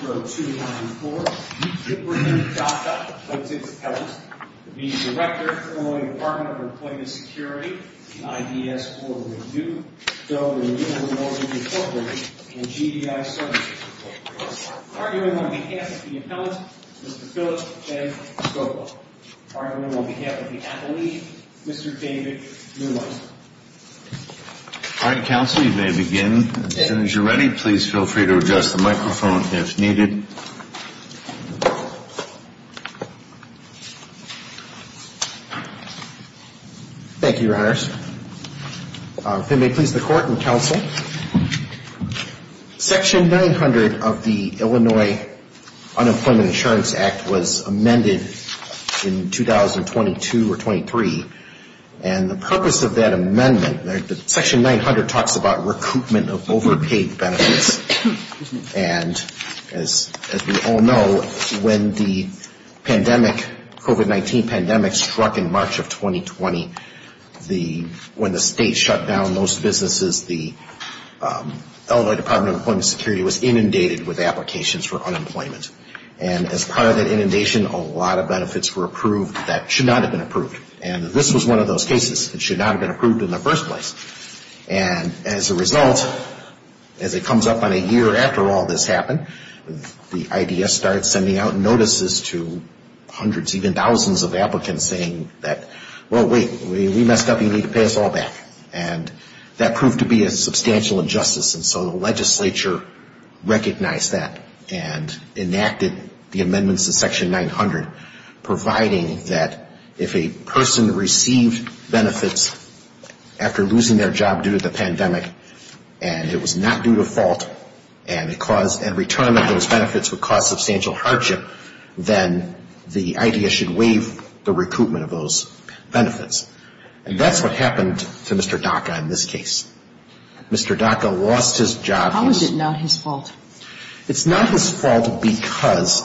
2-24-0294 to apprehend Daka, a plaintiff's appellant, to be the director of Illinois Department of Employment Security, the IDS Board of Review, filled with Illinois Motor Corporation and GDI Services. Arguing on behalf of the appellant, Mr. Philip J. Gopal. Arguing on behalf of the appellee, Mr. David Newman. All right, Counsel, you may begin. As soon as you're ready, please feel free to adjust the microphone if needed. Thank you, Your Honors. If it may please the Court and Counsel, Section 900 of the Illinois Unemployment Insurance Act was amended in 2022 or 23. And the purpose of that amendment, Section 900 talks about recoupment of overpaid benefits. And as we all know, when the COVID-19 pandemic struck in March of 2020, when the state shut down most businesses, the Illinois Department of Employment Security was inundated with applications for unemployment. And as part of that inundation, a lot of benefits were approved that should not have been approved. And this was one of those cases that should not have been approved in the first place. And as a result, as it comes up on a year after all this happened, the IDS started sending out notices to hundreds, even thousands of applicants saying that, well, wait, we messed up, you need to pay us all back. And that proved to be a substantial injustice. And so the legislature recognized that and enacted the amendments to Section 900, providing that if a person received benefits after losing their job due to the pandemic, and it was not due to fault, and the cause and return of those benefits would cause substantial hardship, then the IDS should waive the recoupment of those benefits. And that's what happened to Mr. Dhaka in this case. Mr. Dhaka lost his job. How is it not his fault? It's not his fault because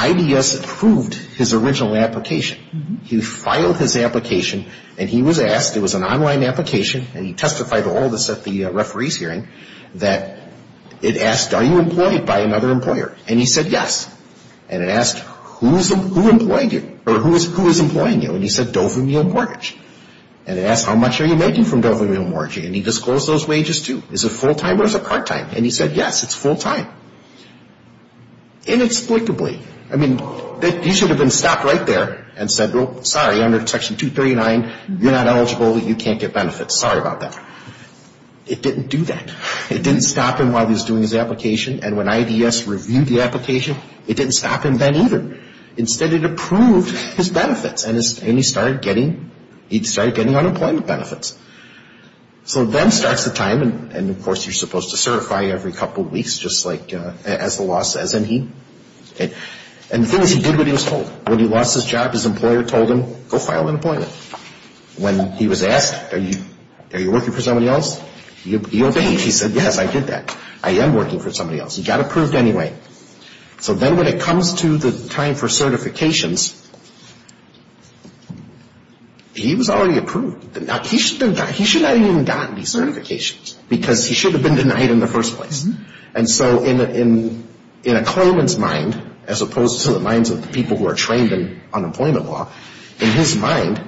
IDS approved his original application. He filed his application, and he was asked, it was an online application, and he testified to all this at the referees' hearing, that it asked, are you employed by another employer? And he said, yes. And it asked, who is employing you? Or who is employing you? And he said, Dover Meal Mortgage. And it asked, how much are you making from Dover Meal Mortgage? And he disclosed those wages, too. Is it full-time or is it part-time? And he said, yes, it's full-time. Inexplicably, I mean, you should have been stopped right there and said, well, sorry, under Section 239, you're not eligible, you can't get benefits. Sorry about that. It didn't do that. It didn't stop him while he was doing his application. And when IDS reviewed the application, it didn't stop him then either. Instead, it approved his benefits. And he started getting unemployment benefits. So then starts the time, and, of course, you're supposed to certify every couple weeks, just like as the law says. And the thing is, he did what he was told. When he lost his job, his employer told him, go file unemployment. When he was asked, are you working for somebody else? He obeyed. He said, yes, I did that. I am working for somebody else. He got approved anyway. So then when it comes to the time for certifications, he was already approved. He should not have even gotten these certifications because he should have been denied in the first place. And so in a claimant's mind, as opposed to the minds of the people who are trained in unemployment law, in his mind,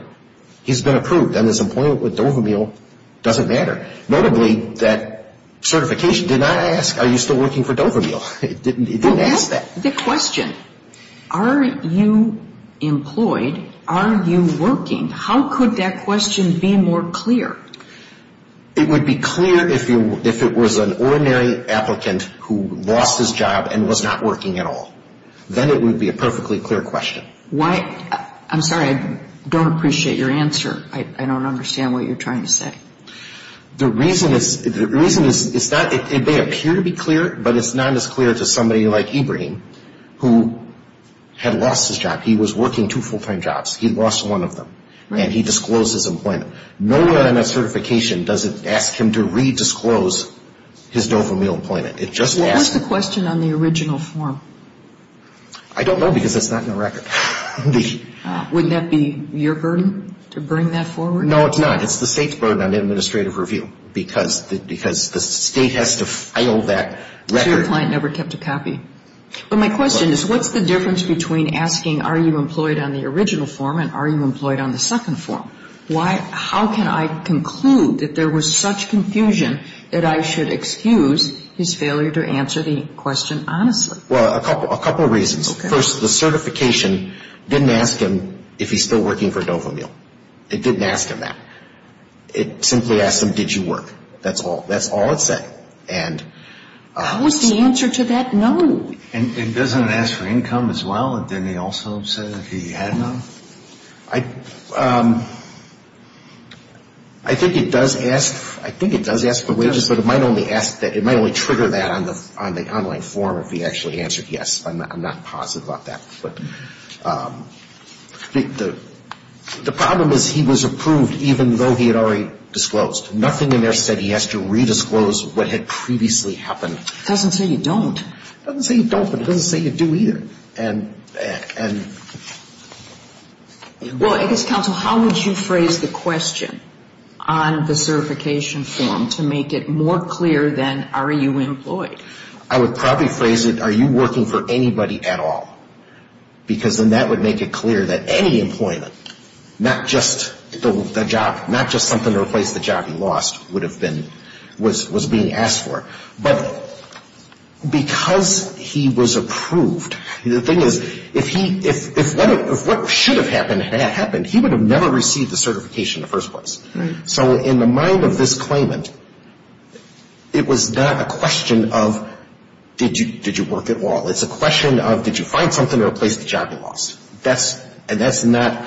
he's been approved. And his employment with Dover Meal doesn't matter. Notably, that certification did not ask, are you still working for Dover Meal? It didn't ask that. Well, that's the question. Are you employed? Are you working? How could that question be more clear? It would be clear if it was an ordinary applicant who lost his job and was not working at all. Then it would be a perfectly clear question. I'm sorry, I don't appreciate your answer. I don't understand what you're trying to say. The reason is, it may appear to be clear, but it's not as clear to somebody like Ibrahim who had lost his job. He was working two full-time jobs. He lost one of them. And he disclosed his employment. No other certification does it ask him to re-disclose his Dover Meal employment. It just asks him. What was the question on the original form? I don't know because it's not in the record. Wouldn't that be your burden to bring that forward? No, it's not. It's the State's burden on administrative review because the State has to file that record. So your client never kept a copy. But my question is, what's the difference between asking are you employed on the original form and are you employed on the second form? How can I conclude that there was such confusion that I should excuse his failure to answer the question honestly? Well, a couple reasons. Okay. First, the certification didn't ask him if he's still working for Dover Meal. It didn't ask him that. It simply asked him, did you work? That's all. That's all it said. How was the answer to that known? And it doesn't ask for income as well. Didn't it also say that he had none? I think it does ask for wages, but it might only ask that. It might only trigger that on the online form if he actually answered yes. I'm not positive about that. But the problem is he was approved even though he had already disclosed. Nothing in there said he has to redisclose what had previously happened. It doesn't say you don't. It doesn't say you don't, but it doesn't say you do either. And — Well, I guess, counsel, how would you phrase the question on the certification form to make it more clear than are you employed? I would probably phrase it, are you working for anybody at all? Because then that would make it clear that any employment, not just the job, not just something to replace the job he lost would have been — was being asked for. But because he was approved, the thing is, if he — if what should have happened had happened, he would have never received the certification in the first place. So in the mind of this claimant, it was not a question of did you work at all? It's a question of did you find something to replace the job you lost? And that's not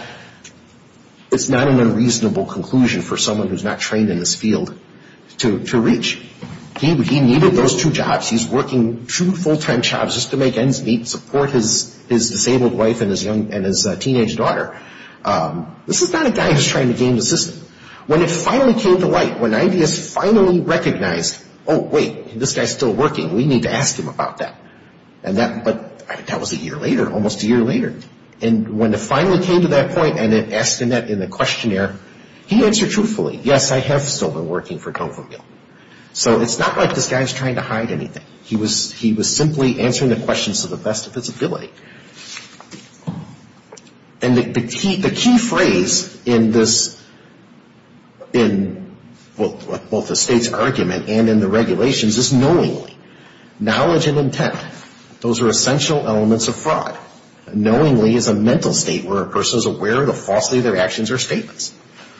— it's not an unreasonable conclusion for someone who's not trained in this field to reach. He needed those two jobs. He's working two full-time jobs just to make ends meet, support his disabled wife and his teenage daughter. This is not a guy who's trying to game the system. When it finally came to light, when IDS finally recognized, oh, wait, this guy's still working. We need to ask him about that. And that — but that was a year later, almost a year later. And when it finally came to that point and it asked Annette in the questionnaire, he answered truthfully, yes, I have still been working for Donovanville. So it's not like this guy's trying to hide anything. He was — he was simply answering the questions to the best of his ability. And the key phrase in this — in both the state's argument and in the regulations is knowingly. Knowledge and intent, those are essential elements of fraud. Knowingly is a mental state where a person is aware of the falsity of their actions or statements.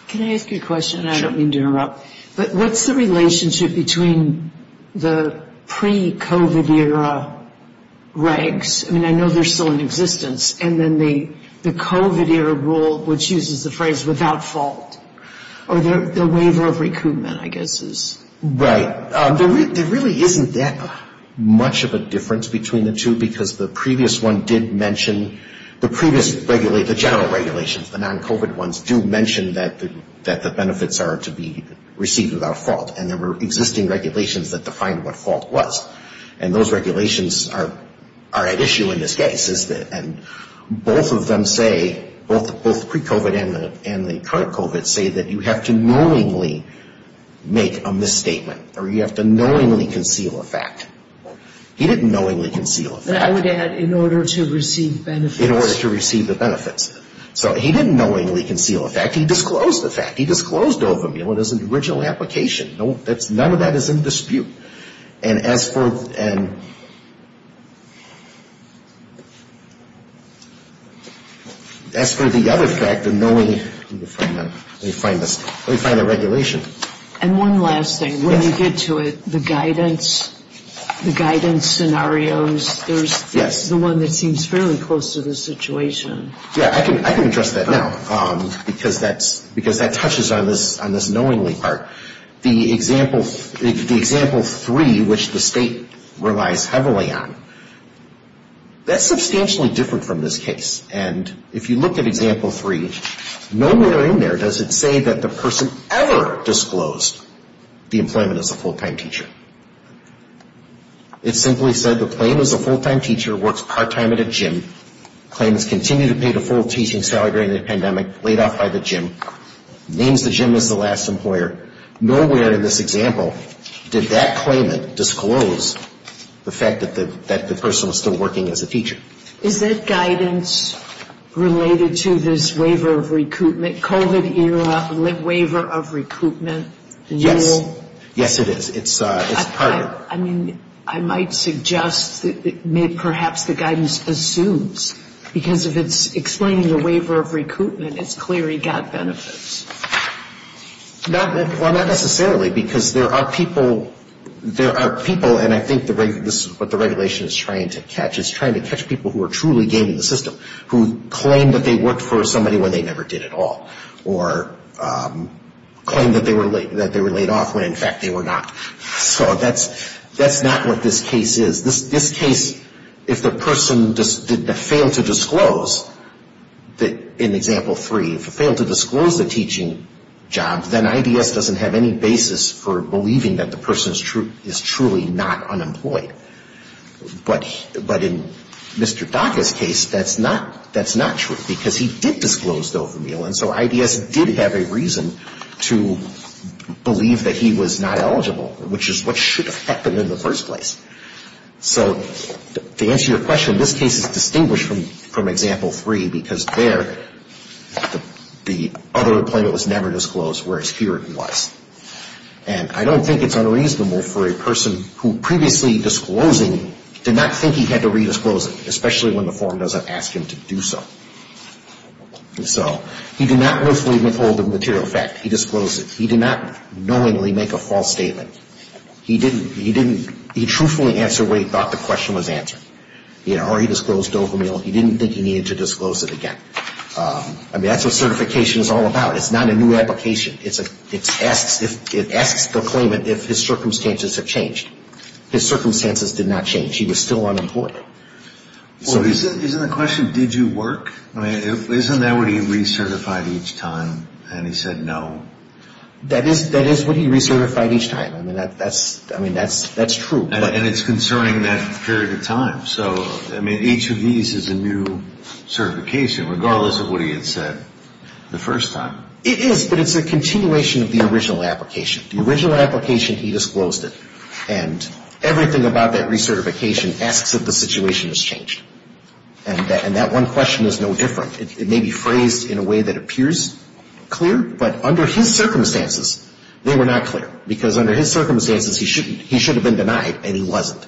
Can I ask you a question? Sure. And I don't mean to interrupt. But what's the relationship between the pre-COVID era regs? I mean, I know they're still in existence. And then the COVID era rule, which uses the phrase without fault, or the waiver of recoupment, I guess, is — There really isn't that much of a difference between the two because the previous one did mention — the previous — the general regulations, the non-COVID ones, do mention that the benefits are to be received without fault. And there were existing regulations that defined what fault was. And those regulations are at issue in this case. And both of them say — both pre-COVID and the current COVID — say that you have to knowingly make a misstatement. Or you have to knowingly conceal a fact. He didn't knowingly conceal a fact. And I would add, in order to receive benefits. In order to receive the benefits. So he didn't knowingly conceal a fact. He disclosed a fact. He disclosed Dovamil as an original application. None of that is in dispute. And as for — and — As for the other fact, the knowingly — let me find that. Let me find this. Let me find the regulation. And one last thing. Yes. When you get to it, the guidance — the guidance scenarios, there's — Yes. There's the one that seems fairly close to the situation. Yeah. I can address that now because that's — because that touches on this knowingly part. The example — the example three, which the state relies heavily on, that's substantially different from this case. And if you look at example three, nowhere in there does it say that the person ever disclosed the employment as a full-time teacher. It simply said the claim is a full-time teacher, works part-time at a gym, claims continue to pay the full teaching salary during the pandemic, laid off by the gym, names the gym as the last employer. Nowhere in this example did that claimant disclose the fact that the person was still working as a teacher. Is that guidance related to this waiver of recoupment, COVID-era waiver of recoupment rule? Yes, it is. It's part of it. I mean, I might suggest that perhaps the guidance assumes, because if it's explaining the waiver of recoupment, it's clear he got benefits. Well, not necessarily, because there are people — there are people, and I think this is what the regulation is trying to catch, it's trying to catch people who are truly gaming the system, who claim that they worked for somebody when they never did at all, or claim that they were laid off when, in fact, they were not. So that's not what this case is. This case, if the person failed to disclose, in Example 3, if he failed to disclose the teaching job, then IDS doesn't have any basis for believing that the person is truly not unemployed. But in Mr. Dhaka's case, that's not true, because he did disclose the overmeal, and so IDS did have a reason to believe that he was not eligible, which is what should have happened in the first place. So to answer your question, this case is distinguished from Example 3, because there, the other employment was never disclosed, whereas here it was. And I don't think it's unreasonable for a person who previously disclosing did not think he had to re-disclose it, especially when the form doesn't ask him to do so. He did not willfully withhold the material fact. He disclosed it. He did not knowingly make a false statement. He didn't. He didn't. He truthfully answered what he thought the question was answering, or he disclosed overmeal. He didn't think he needed to disclose it again. I mean, that's what certification is all about. It's not a new application. It's a, it asks, it asks the claimant if his circumstances have changed. His circumstances did not change. He was still unemployed. Well, isn't the question, did you work? I mean, isn't that what he recertified each time, and he said no? That is what he recertified each time. I mean, that's true. And it's concerning that period of time. So, I mean, each of these is a new certification, regardless of what he had said the first time. It is, but it's a continuation of the original application. The original application, he disclosed it. And everything about that recertification asks that the situation has changed. And that one question is no different. It may be phrased in a way that appears clear, but under his circumstances, they were not clear. Because under his circumstances, he should have been denied, and he wasn't.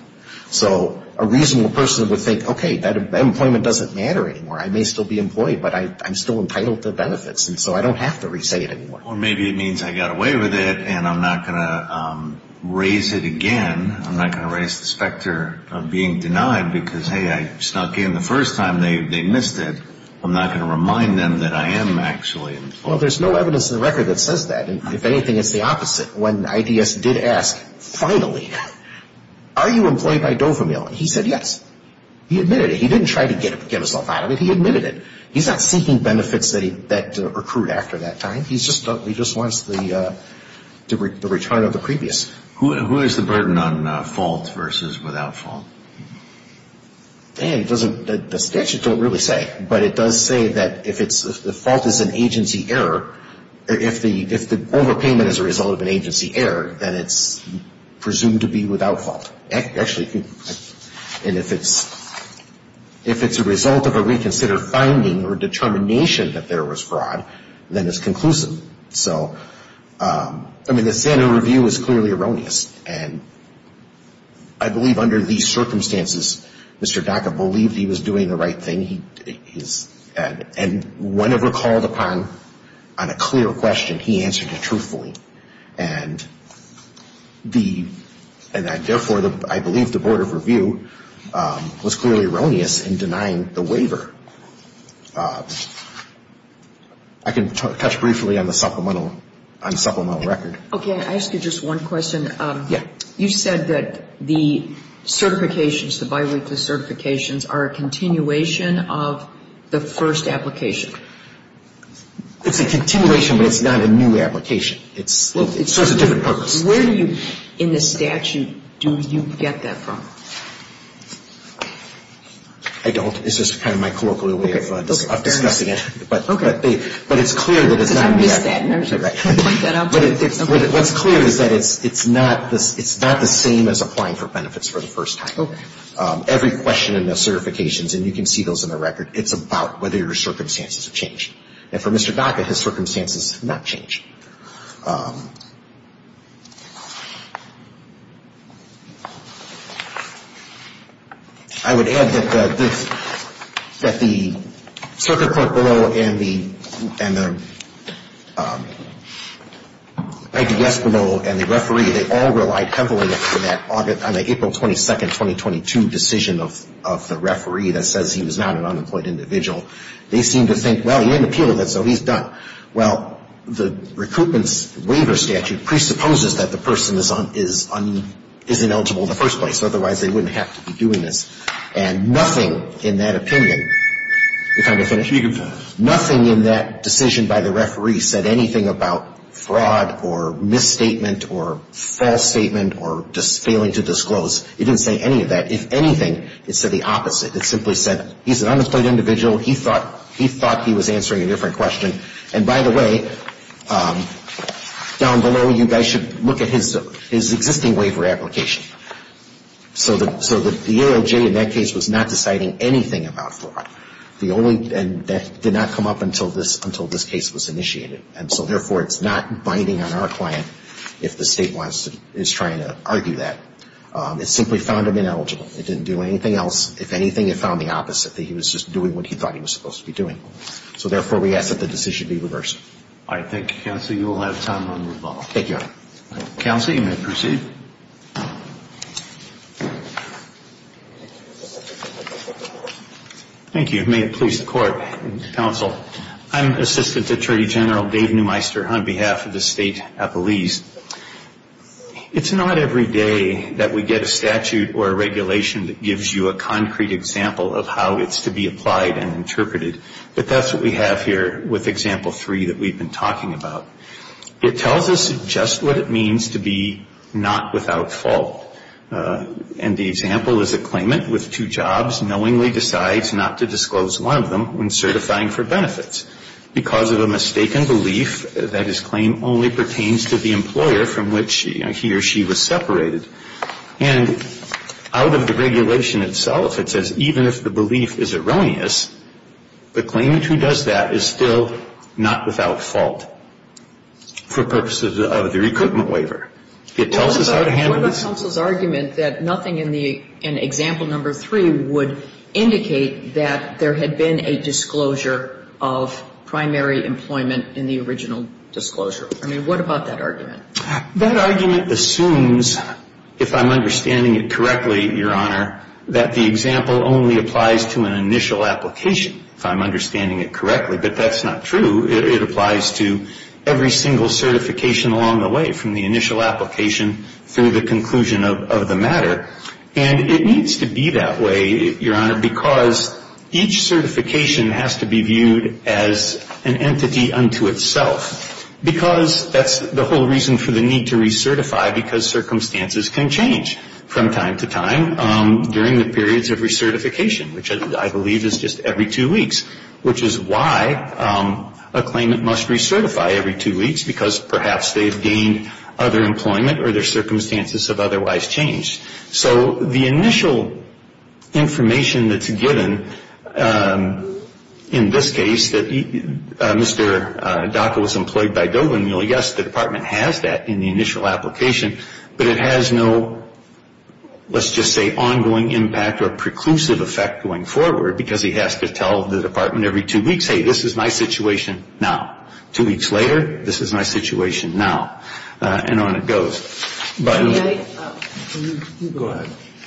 So a reasonable person would think, okay, that employment doesn't matter anymore. I may still be employed, but I'm still entitled to benefits, and so I don't have to re-say it anymore. Or maybe it means I got away with it, and I'm not going to raise it again. I'm not going to raise the specter of being denied because, hey, I snuck in the first time. They missed it. I'm not going to remind them that I am actually employed. Well, there's no evidence in the record that says that. If anything, it's the opposite. When IDS did ask, finally, are you employed by Dovamil? He said yes. He admitted it. He didn't try to get himself out of it. He admitted it. He's not seeking benefits that recruit after that time. He just wants the return of the previous. Who is the burden on fault versus without fault? The statute doesn't really say. But it does say that if fault is an agency error, if the overpayment is a result of an agency error, then it's presumed to be without fault. Actually, if it's a result of a reconsidered finding or determination that there was fraud, then it's conclusive. So, I mean, the Santa review is clearly erroneous. And I believe under these circumstances, Mr. Dacca believed he was doing the right thing. And whenever called upon on a clear question, he answered it truthfully. And therefore, I believe the Board of Review was clearly erroneous in denying the waiver. I can touch briefly on the supplemental record. Okay. I ask you just one question. Yeah. You said that the certifications, the biweekly certifications, are a continuation of the first application. It's a continuation, but it's not a new application. It serves a different purpose. Where do you, in the statute, do you get that from? I don't. It's just kind of my colloquial way of discussing it. Okay. But it's clear that it's not a new application. I missed that. Point that out. What's clear is that it's not the same as applying for benefits for the first time. Okay. Every question in the certifications, and you can see those in the record, it's about whether your circumstances have changed. And for Mr. Dacca, his circumstances have not changed. I would add that the circuit court below and the IDS below and the referee, they all relied heavily on the April 22nd, 2022 decision of the referee that says he was not an unemployed individual. They seemed to think, well, he didn't appeal, so he's done. Well, the recruitment's waiver statute presupposes that the person is ineligible in the first place. Otherwise, they wouldn't have to be doing this. And nothing in that opinion, nothing in that decision by the referee said anything about fraud or misstatement or false statement or just failing to disclose. It didn't say any of that. If anything, it said the opposite. It simply said he's an unemployed individual. He thought he was answering a different question. And, by the way, down below, you guys should look at his existing waiver application. So the EOJ in that case was not deciding anything about fraud. And that did not come up until this case was initiated. And so, therefore, it's not binding on our client if the State is trying to argue that. It simply found him ineligible. It didn't do anything else. If anything, it found the opposite, that he was just doing what he thought he was supposed to be doing. So, therefore, we ask that the decision be reversed. All right. Thank you, Counsel. You will have time to move on. Thank you, Your Honor. Counsel, you may proceed. Thank you. May it please the Court and Counsel, I'm Assistant Attorney General Dave Neumeister on behalf of the State Appellees. It's not every day that we get a statute or a regulation that gives you a concrete example of how it's to be applied and interpreted. But that's what we have here with Example 3 that we've been talking about. It tells us just what it means to be not without fault. And the example is a claimant with two jobs knowingly decides not to disclose one of them when certifying for benefits. Because of a mistaken belief that his claim only pertains to the employer from which he or she was separated. And out of the regulation itself, it says even if the belief is erroneous, the claimant who does that is still not without fault for purposes of the recoupment waiver. It tells us how to handle this. Counsel's argument that nothing in Example 3 would indicate that there had been a disclosure of primary employment in the original disclosure. I mean, what about that argument? That argument assumes, if I'm understanding it correctly, Your Honor, that the example only applies to an initial application, if I'm understanding it correctly. But that's not true. It applies to every single certification along the way from the initial application through the conclusion of the matter. And it needs to be that way, Your Honor, because each certification has to be viewed as an entity unto itself. Because that's the whole reason for the need to recertify, because circumstances can change from time to time during the periods of recertification, which I believe is just every two weeks, which is why a claimant must recertify every two weeks, because perhaps they've gained other employment or their circumstances have otherwise changed. So the initial information that's given in this case that Mr. Dacca was employed by Dover, the department has that in the initial application, but it has no, let's just say, ongoing impact or preclusive effect going forward because he has to tell the department every two weeks, hey, this is my situation now. Two weeks later, this is my situation now. And on it goes. Go ahead.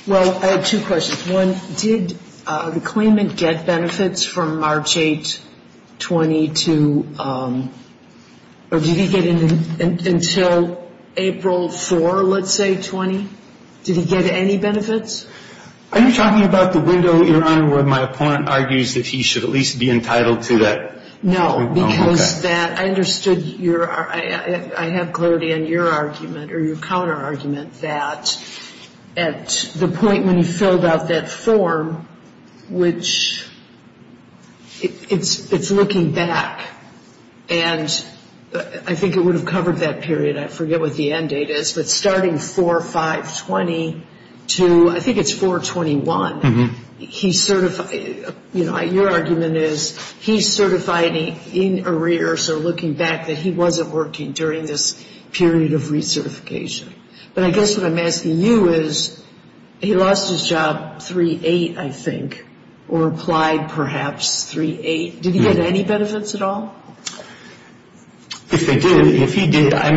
Well, I have two questions. One, did the claimant get benefits from March 8, 20, or did he get until April 4, let's say, 20? Did he get any benefits? Are you talking about the window, Your Honor, where my opponent argues that he should at least be entitled to that? No, because that, I understood your, I have clarity on your argument or your counterargument that at the point when he filled out that form, which it's looking back, and I think it would have covered that period, I forget what the end date is, but starting 4, 5, 20 to, I think it's 4, 21. He certified, you know, your argument is he certified in arrear, so looking back that he wasn't working during this period of recertification. But I guess what I'm asking you is he lost his job 3, 8, I think, or applied perhaps 3, 8. Did he get any benefits at all? If he did, I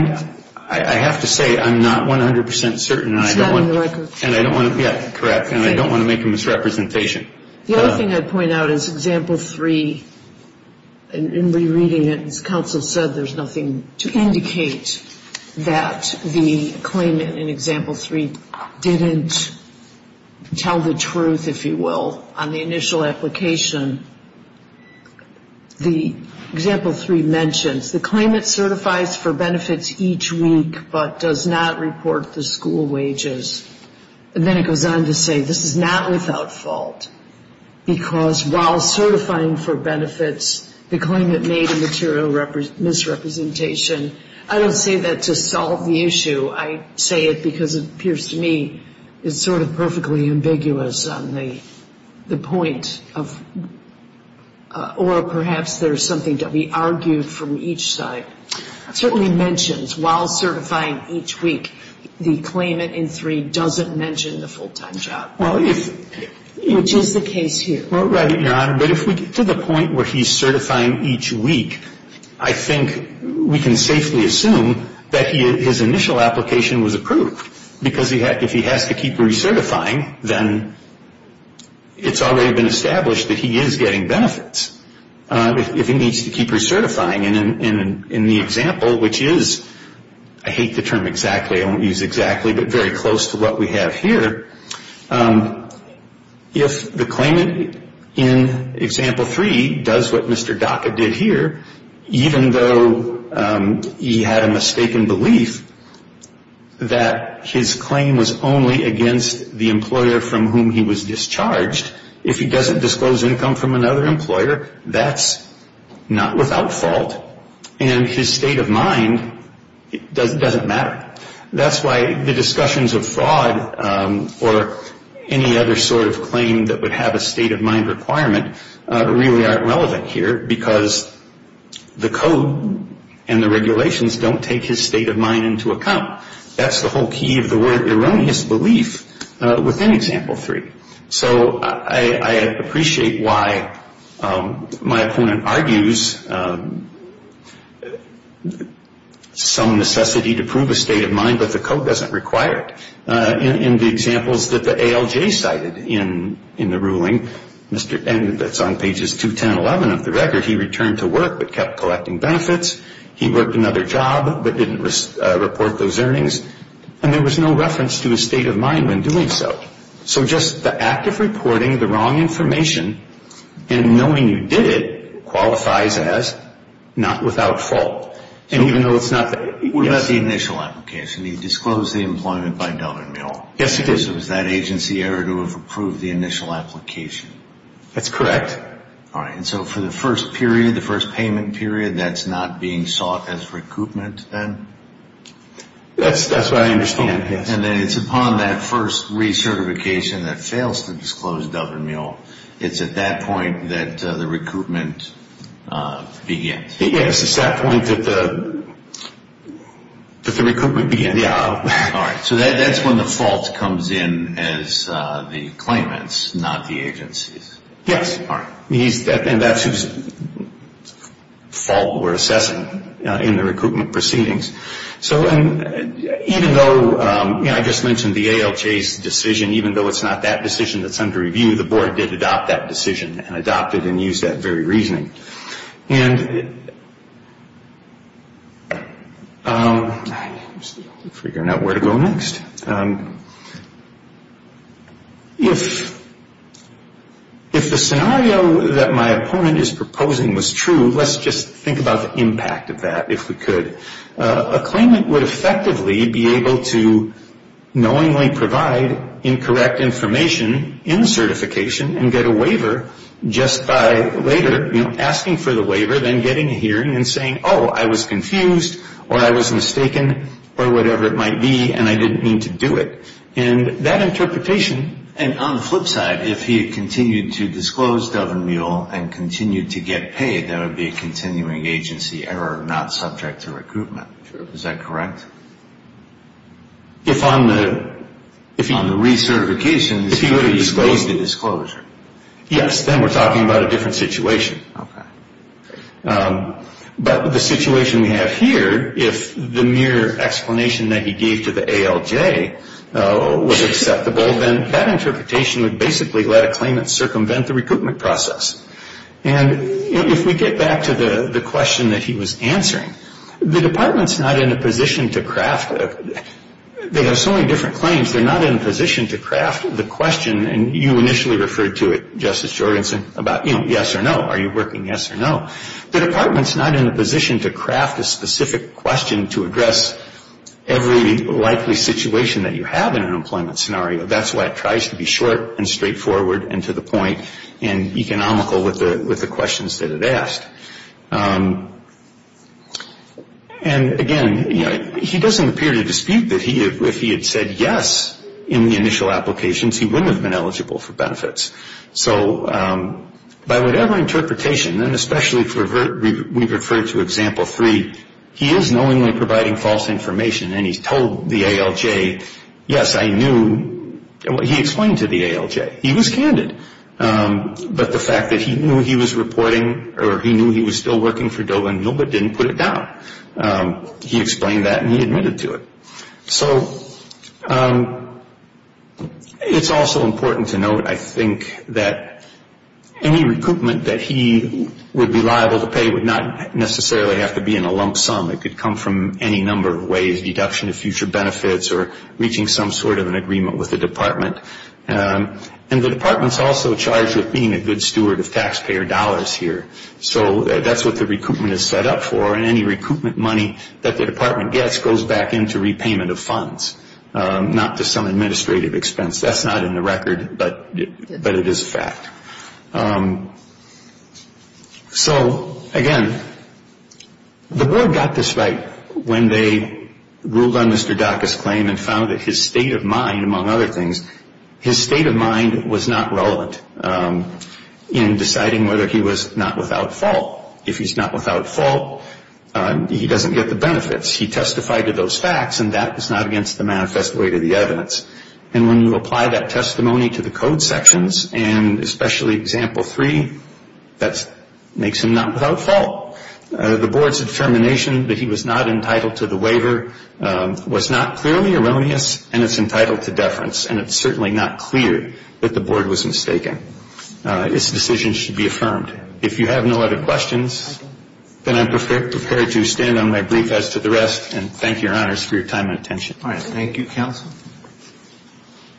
have to say I'm not 100% certain. And I don't want to, yeah, correct. And I don't want to make a misrepresentation. The other thing I'd point out is example 3, and rereading it, as counsel said, there's nothing to indicate that the claimant in example 3 didn't tell the truth, if you will, on the initial application. The example 3 mentions the claimant certifies for benefits each week but does not report the school wages. And then it goes on to say this is not without fault because while certifying for benefits, the claimant made a material misrepresentation. I don't say that to solve the issue. I say it because it appears to me it's sort of perfectly ambiguous on the point of, or perhaps there's something to be argued from each side. Certainly mentions while certifying each week, the claimant in 3 doesn't mention the full-time job, which is the case here. Right, Your Honor. But if we get to the point where he's certifying each week, I think we can safely assume that his initial application was approved. Because if he has to keep recertifying, then it's already been established that he is getting benefits. If he needs to keep recertifying in the example, which is, I hate the term exactly, I won't use exactly but very close to what we have here. If the claimant in example 3 does what Mr. Dacca did here, even though he had a mistaken belief that his claim was only against the employer from whom he was discharged, if he doesn't disclose income from another employer, that's not without fault. And his state of mind doesn't matter. That's why the discussions of fraud or any other sort of claim that would have a state of mind requirement really aren't relevant here, because the code and the regulations don't take his state of mind into account. That's the whole key of the word erroneous belief within example 3. So I appreciate why my opponent argues some necessity to prove a state of mind, but the code doesn't require it. In the examples that the ALJ cited in the ruling, and that's on pages 2, 10, 11 of the record, he returned to work but kept collecting benefits. He worked another job but didn't report those earnings. And there was no reference to his state of mind when doing so. So just the act of reporting the wrong information and knowing you did it qualifies as not without fault. And even though it's not that... What about the initial application? He disclosed the employment by dollar bill. Yes, he did. So it was that agency error to have approved the initial application. That's correct. All right. And so for the first period, the first payment period, that's not being sought as recoupment then? That's what I understand, yes. And then it's upon that first recertification that fails to disclose dollar bill. It's at that point that the recoupment begins. Yes, it's that point that the recoupment begins. Yeah. All right. So that's when the fault comes in as the claimants, not the agencies. Yes. All right. And that's whose fault we're assessing in the recoupment proceedings. So even though I just mentioned the ALJ's decision, even though it's not that decision that's under review, the board did adopt that decision and adopted and used that very reasoning. And figuring out where to go next. If the scenario that my opponent is proposing was true, let's just think about the impact of that, if we could. A claimant would effectively be able to knowingly provide incorrect information in certification and get a waiver just by later asking for the waiver, then getting a hearing and saying, oh, I was confused or I was mistaken or whatever it might be, and I didn't mean to do it. And that interpretation, and on the flip side, if he had continued to disclose Dove and Mule and continued to get paid, that would be a continuing agency error, not subject to recoupment. Is that correct? If on the recertification, he would have disclosed the disclosure. Yes, then we're talking about a different situation. Okay. But the situation we have here, if the mere explanation that he gave to the ALJ was acceptable, then that interpretation would basically let a claimant circumvent the recoupment process. And if we get back to the question that he was answering, the department's not in a position to craft, they have so many different claims, they're not in a position to craft the question, and you initially referred to it, Justice Jorgensen, about yes or no. Are you working yes or no? The department's not in a position to craft a specific question to address every likely situation that you have in an employment scenario. That's why it tries to be short and straightforward and to the point and economical with the questions that it asked. And, again, he doesn't appear to dispute that if he had said yes in the initial applications, he wouldn't have been eligible for benefits. So by whatever interpretation, and especially if we refer to example three, he is knowingly providing false information and he's told the ALJ, yes, I knew. He explained to the ALJ. He was candid. But the fact that he knew he was reporting or he knew he was still working for Dover Mill but didn't put it down, he explained that and he admitted to it. So it's also important to note, I think, that any recoupment that he would be liable to pay would not necessarily have to be in a lump sum. It could come from any number of ways, deduction of future benefits or reaching some sort of an agreement with the department. And the department's also charged with being a good steward of taxpayer dollars here. So that's what the recoupment is set up for, and any recoupment money that the department gets goes back into repayment of funds, not to some administrative expense. That's not in the record, but it is a fact. So, again, the board got this right when they ruled on Mr. Dacca's claim and found that his state of mind, among other things, his state of mind was not relevant in deciding whether he was not without fault. If he's not without fault, he doesn't get the benefits. He testified to those facts, and that is not against the manifest way to the evidence. And when you apply that testimony to the code sections, and especially Example 3, that makes him not without fault. The board's determination that he was not entitled to the waiver was not clearly erroneous, and it's entitled to deference, and it's certainly not clear that the board was mistaken. This decision should be affirmed. If you have no other questions, then I'm prepared to stand on my brief as to the rest and thank Your Honors for your time and attention. All right. Thank you, Counsel.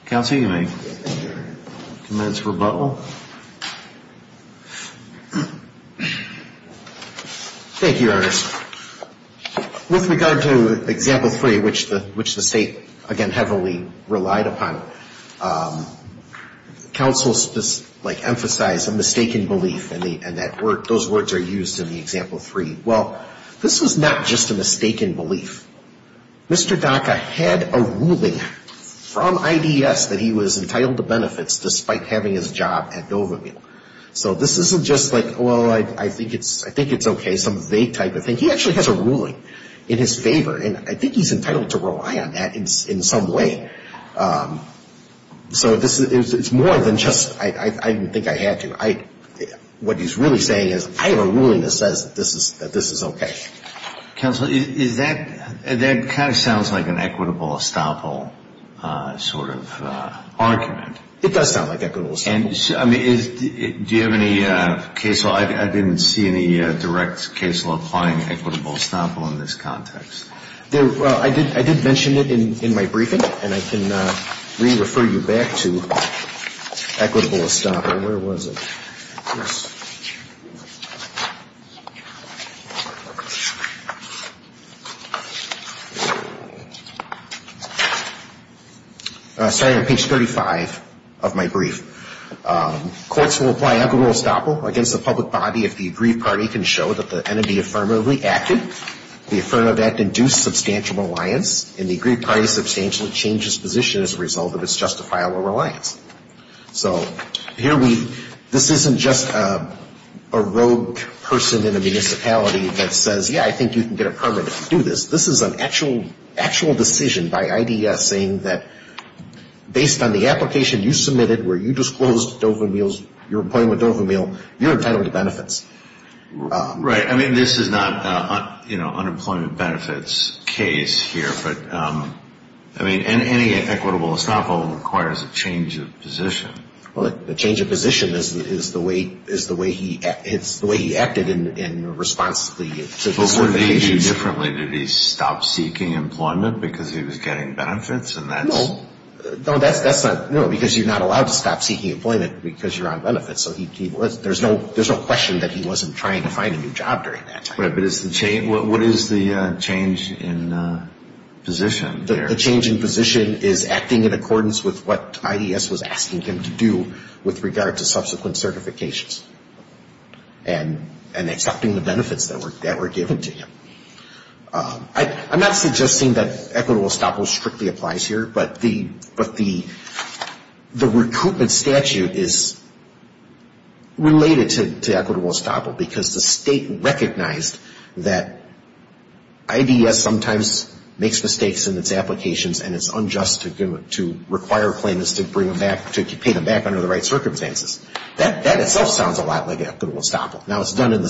Counsel, you may commence rebuttal. Thank you, Your Honors. With regard to Example 3, which the state, again, heavily relied upon, counsel emphasized a mistaken belief, and those words are used in the Example 3. Well, this was not just a mistaken belief. Mr. Dacca had a ruling from IDS that he was entitled to benefits despite having his job at Dovahmeal. So this isn't just like, well, I think it's okay, some vague type of thing. He actually has a ruling in his favor, and I think he's entitled to rely on that in some way. So it's more than just I didn't think I had to. What he's really saying is I have a ruling that says that this is okay. Counsel, that kind of sounds like an equitable estoppel sort of argument. It does sound like equitable estoppel. Do you have any case law? I didn't see any direct case law applying equitable estoppel in this context. I did mention it in my briefing, and I can re-refer you back to equitable estoppel. Where was it? Sorry, on page 35 of my brief. Courts will apply equitable estoppel against the public body if the aggrieved party can show that the entity affirmatively acted, the affirmative act induced substantial reliance, and the aggrieved party substantially changed its position as a result of its justifiable reliance. So here we, this isn't just a rogue person in a municipality that says, yeah, I think you can get a permit to do this. This is an actual decision by IDS saying that based on the application you submitted where you disclosed Dovahmeal's, you're employing with Dovahmeal, you're entitled to benefits. Right. I mean, this is not, you know, unemployment benefits case here. But, I mean, any equitable estoppel requires a change of position. Well, the change of position is the way he acted in response to the certification. But what did he do differently? Did he stop seeking employment because he was getting benefits? No. No, that's not, no, because you're not allowed to stop seeking employment because you're on benefits. So there's no question that he wasn't trying to find a new job during that time. Right, but what is the change in position there? The change in position is acting in accordance with what IDS was asking him to do with regard to subsequent certifications and accepting the benefits that were given to him. I'm not suggesting that equitable estoppel strictly applies here, but the recoupment statute is related to equitable estoppel because the state recognized that IDS sometimes makes mistakes in its applications and it's unjust to require claimants to bring them back, to pay them back under the right circumstances. That itself sounds a lot like equitable estoppel. Now, it's done in the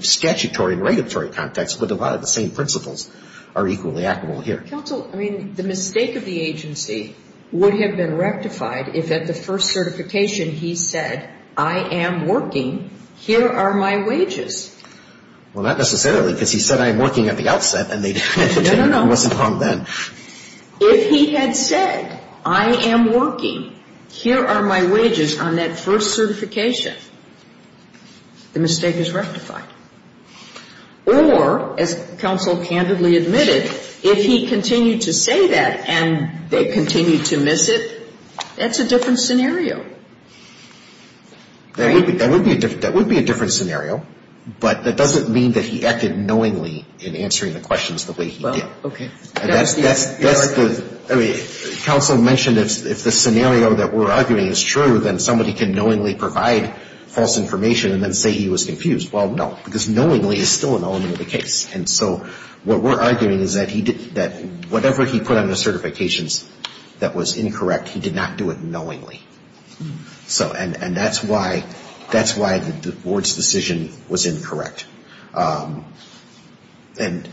statutory and regulatory context, but a lot of the same principles are equally equitable here. Counsel, I mean, the mistake of the agency would have been rectified if at the first certification he said, I am working, here are my wages. Well, not necessarily because he said I am working at the outset and they didn't, it wasn't on then. No, no, no. If he had said, I am working, here are my wages on that first certification, the mistake is rectified. Or, as Counsel candidly admitted, if he continued to say that and they continued to miss it, that's a different scenario. That would be a different scenario, but that doesn't mean that he acted knowingly in answering the questions the way he did. Counsel mentioned if the scenario that we're arguing is true, then somebody can knowingly provide false information and then say he was confused. Well, no, because knowingly is still an element of the case. And so what we're arguing is that whatever he put on the certifications that was incorrect, he did not do it knowingly. And that's why the Board's decision was incorrect. And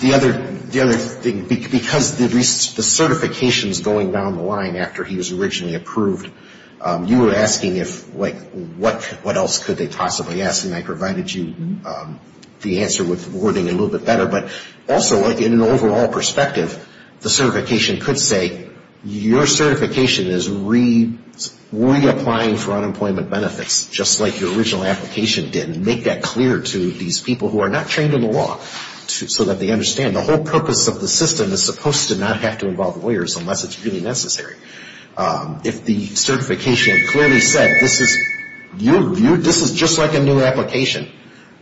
the other thing, because the certifications going down the line after he was originally approved, you were asking if, like, what else could they possibly ask, and I provided you the answer with wording a little bit better. But also, like, in an overall perspective, the certification could say, your certification is reapplying for unemployment benefits just like your original application did and make that clear to these people who are not trained in the law so that they understand. The whole purpose of the system is supposed to not have to involve lawyers unless it's really necessary. If the certification clearly said this is just like a new application,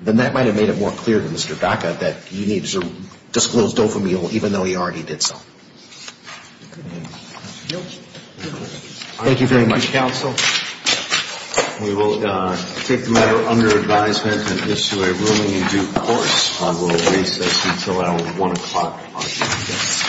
then that might have made it more clear to Mr. Dacca that you need to disclose dopamine even though he already did so. Thank you very much. We will take the matter under advisement and issue a ruling in due course. I will recess until 1 o'clock.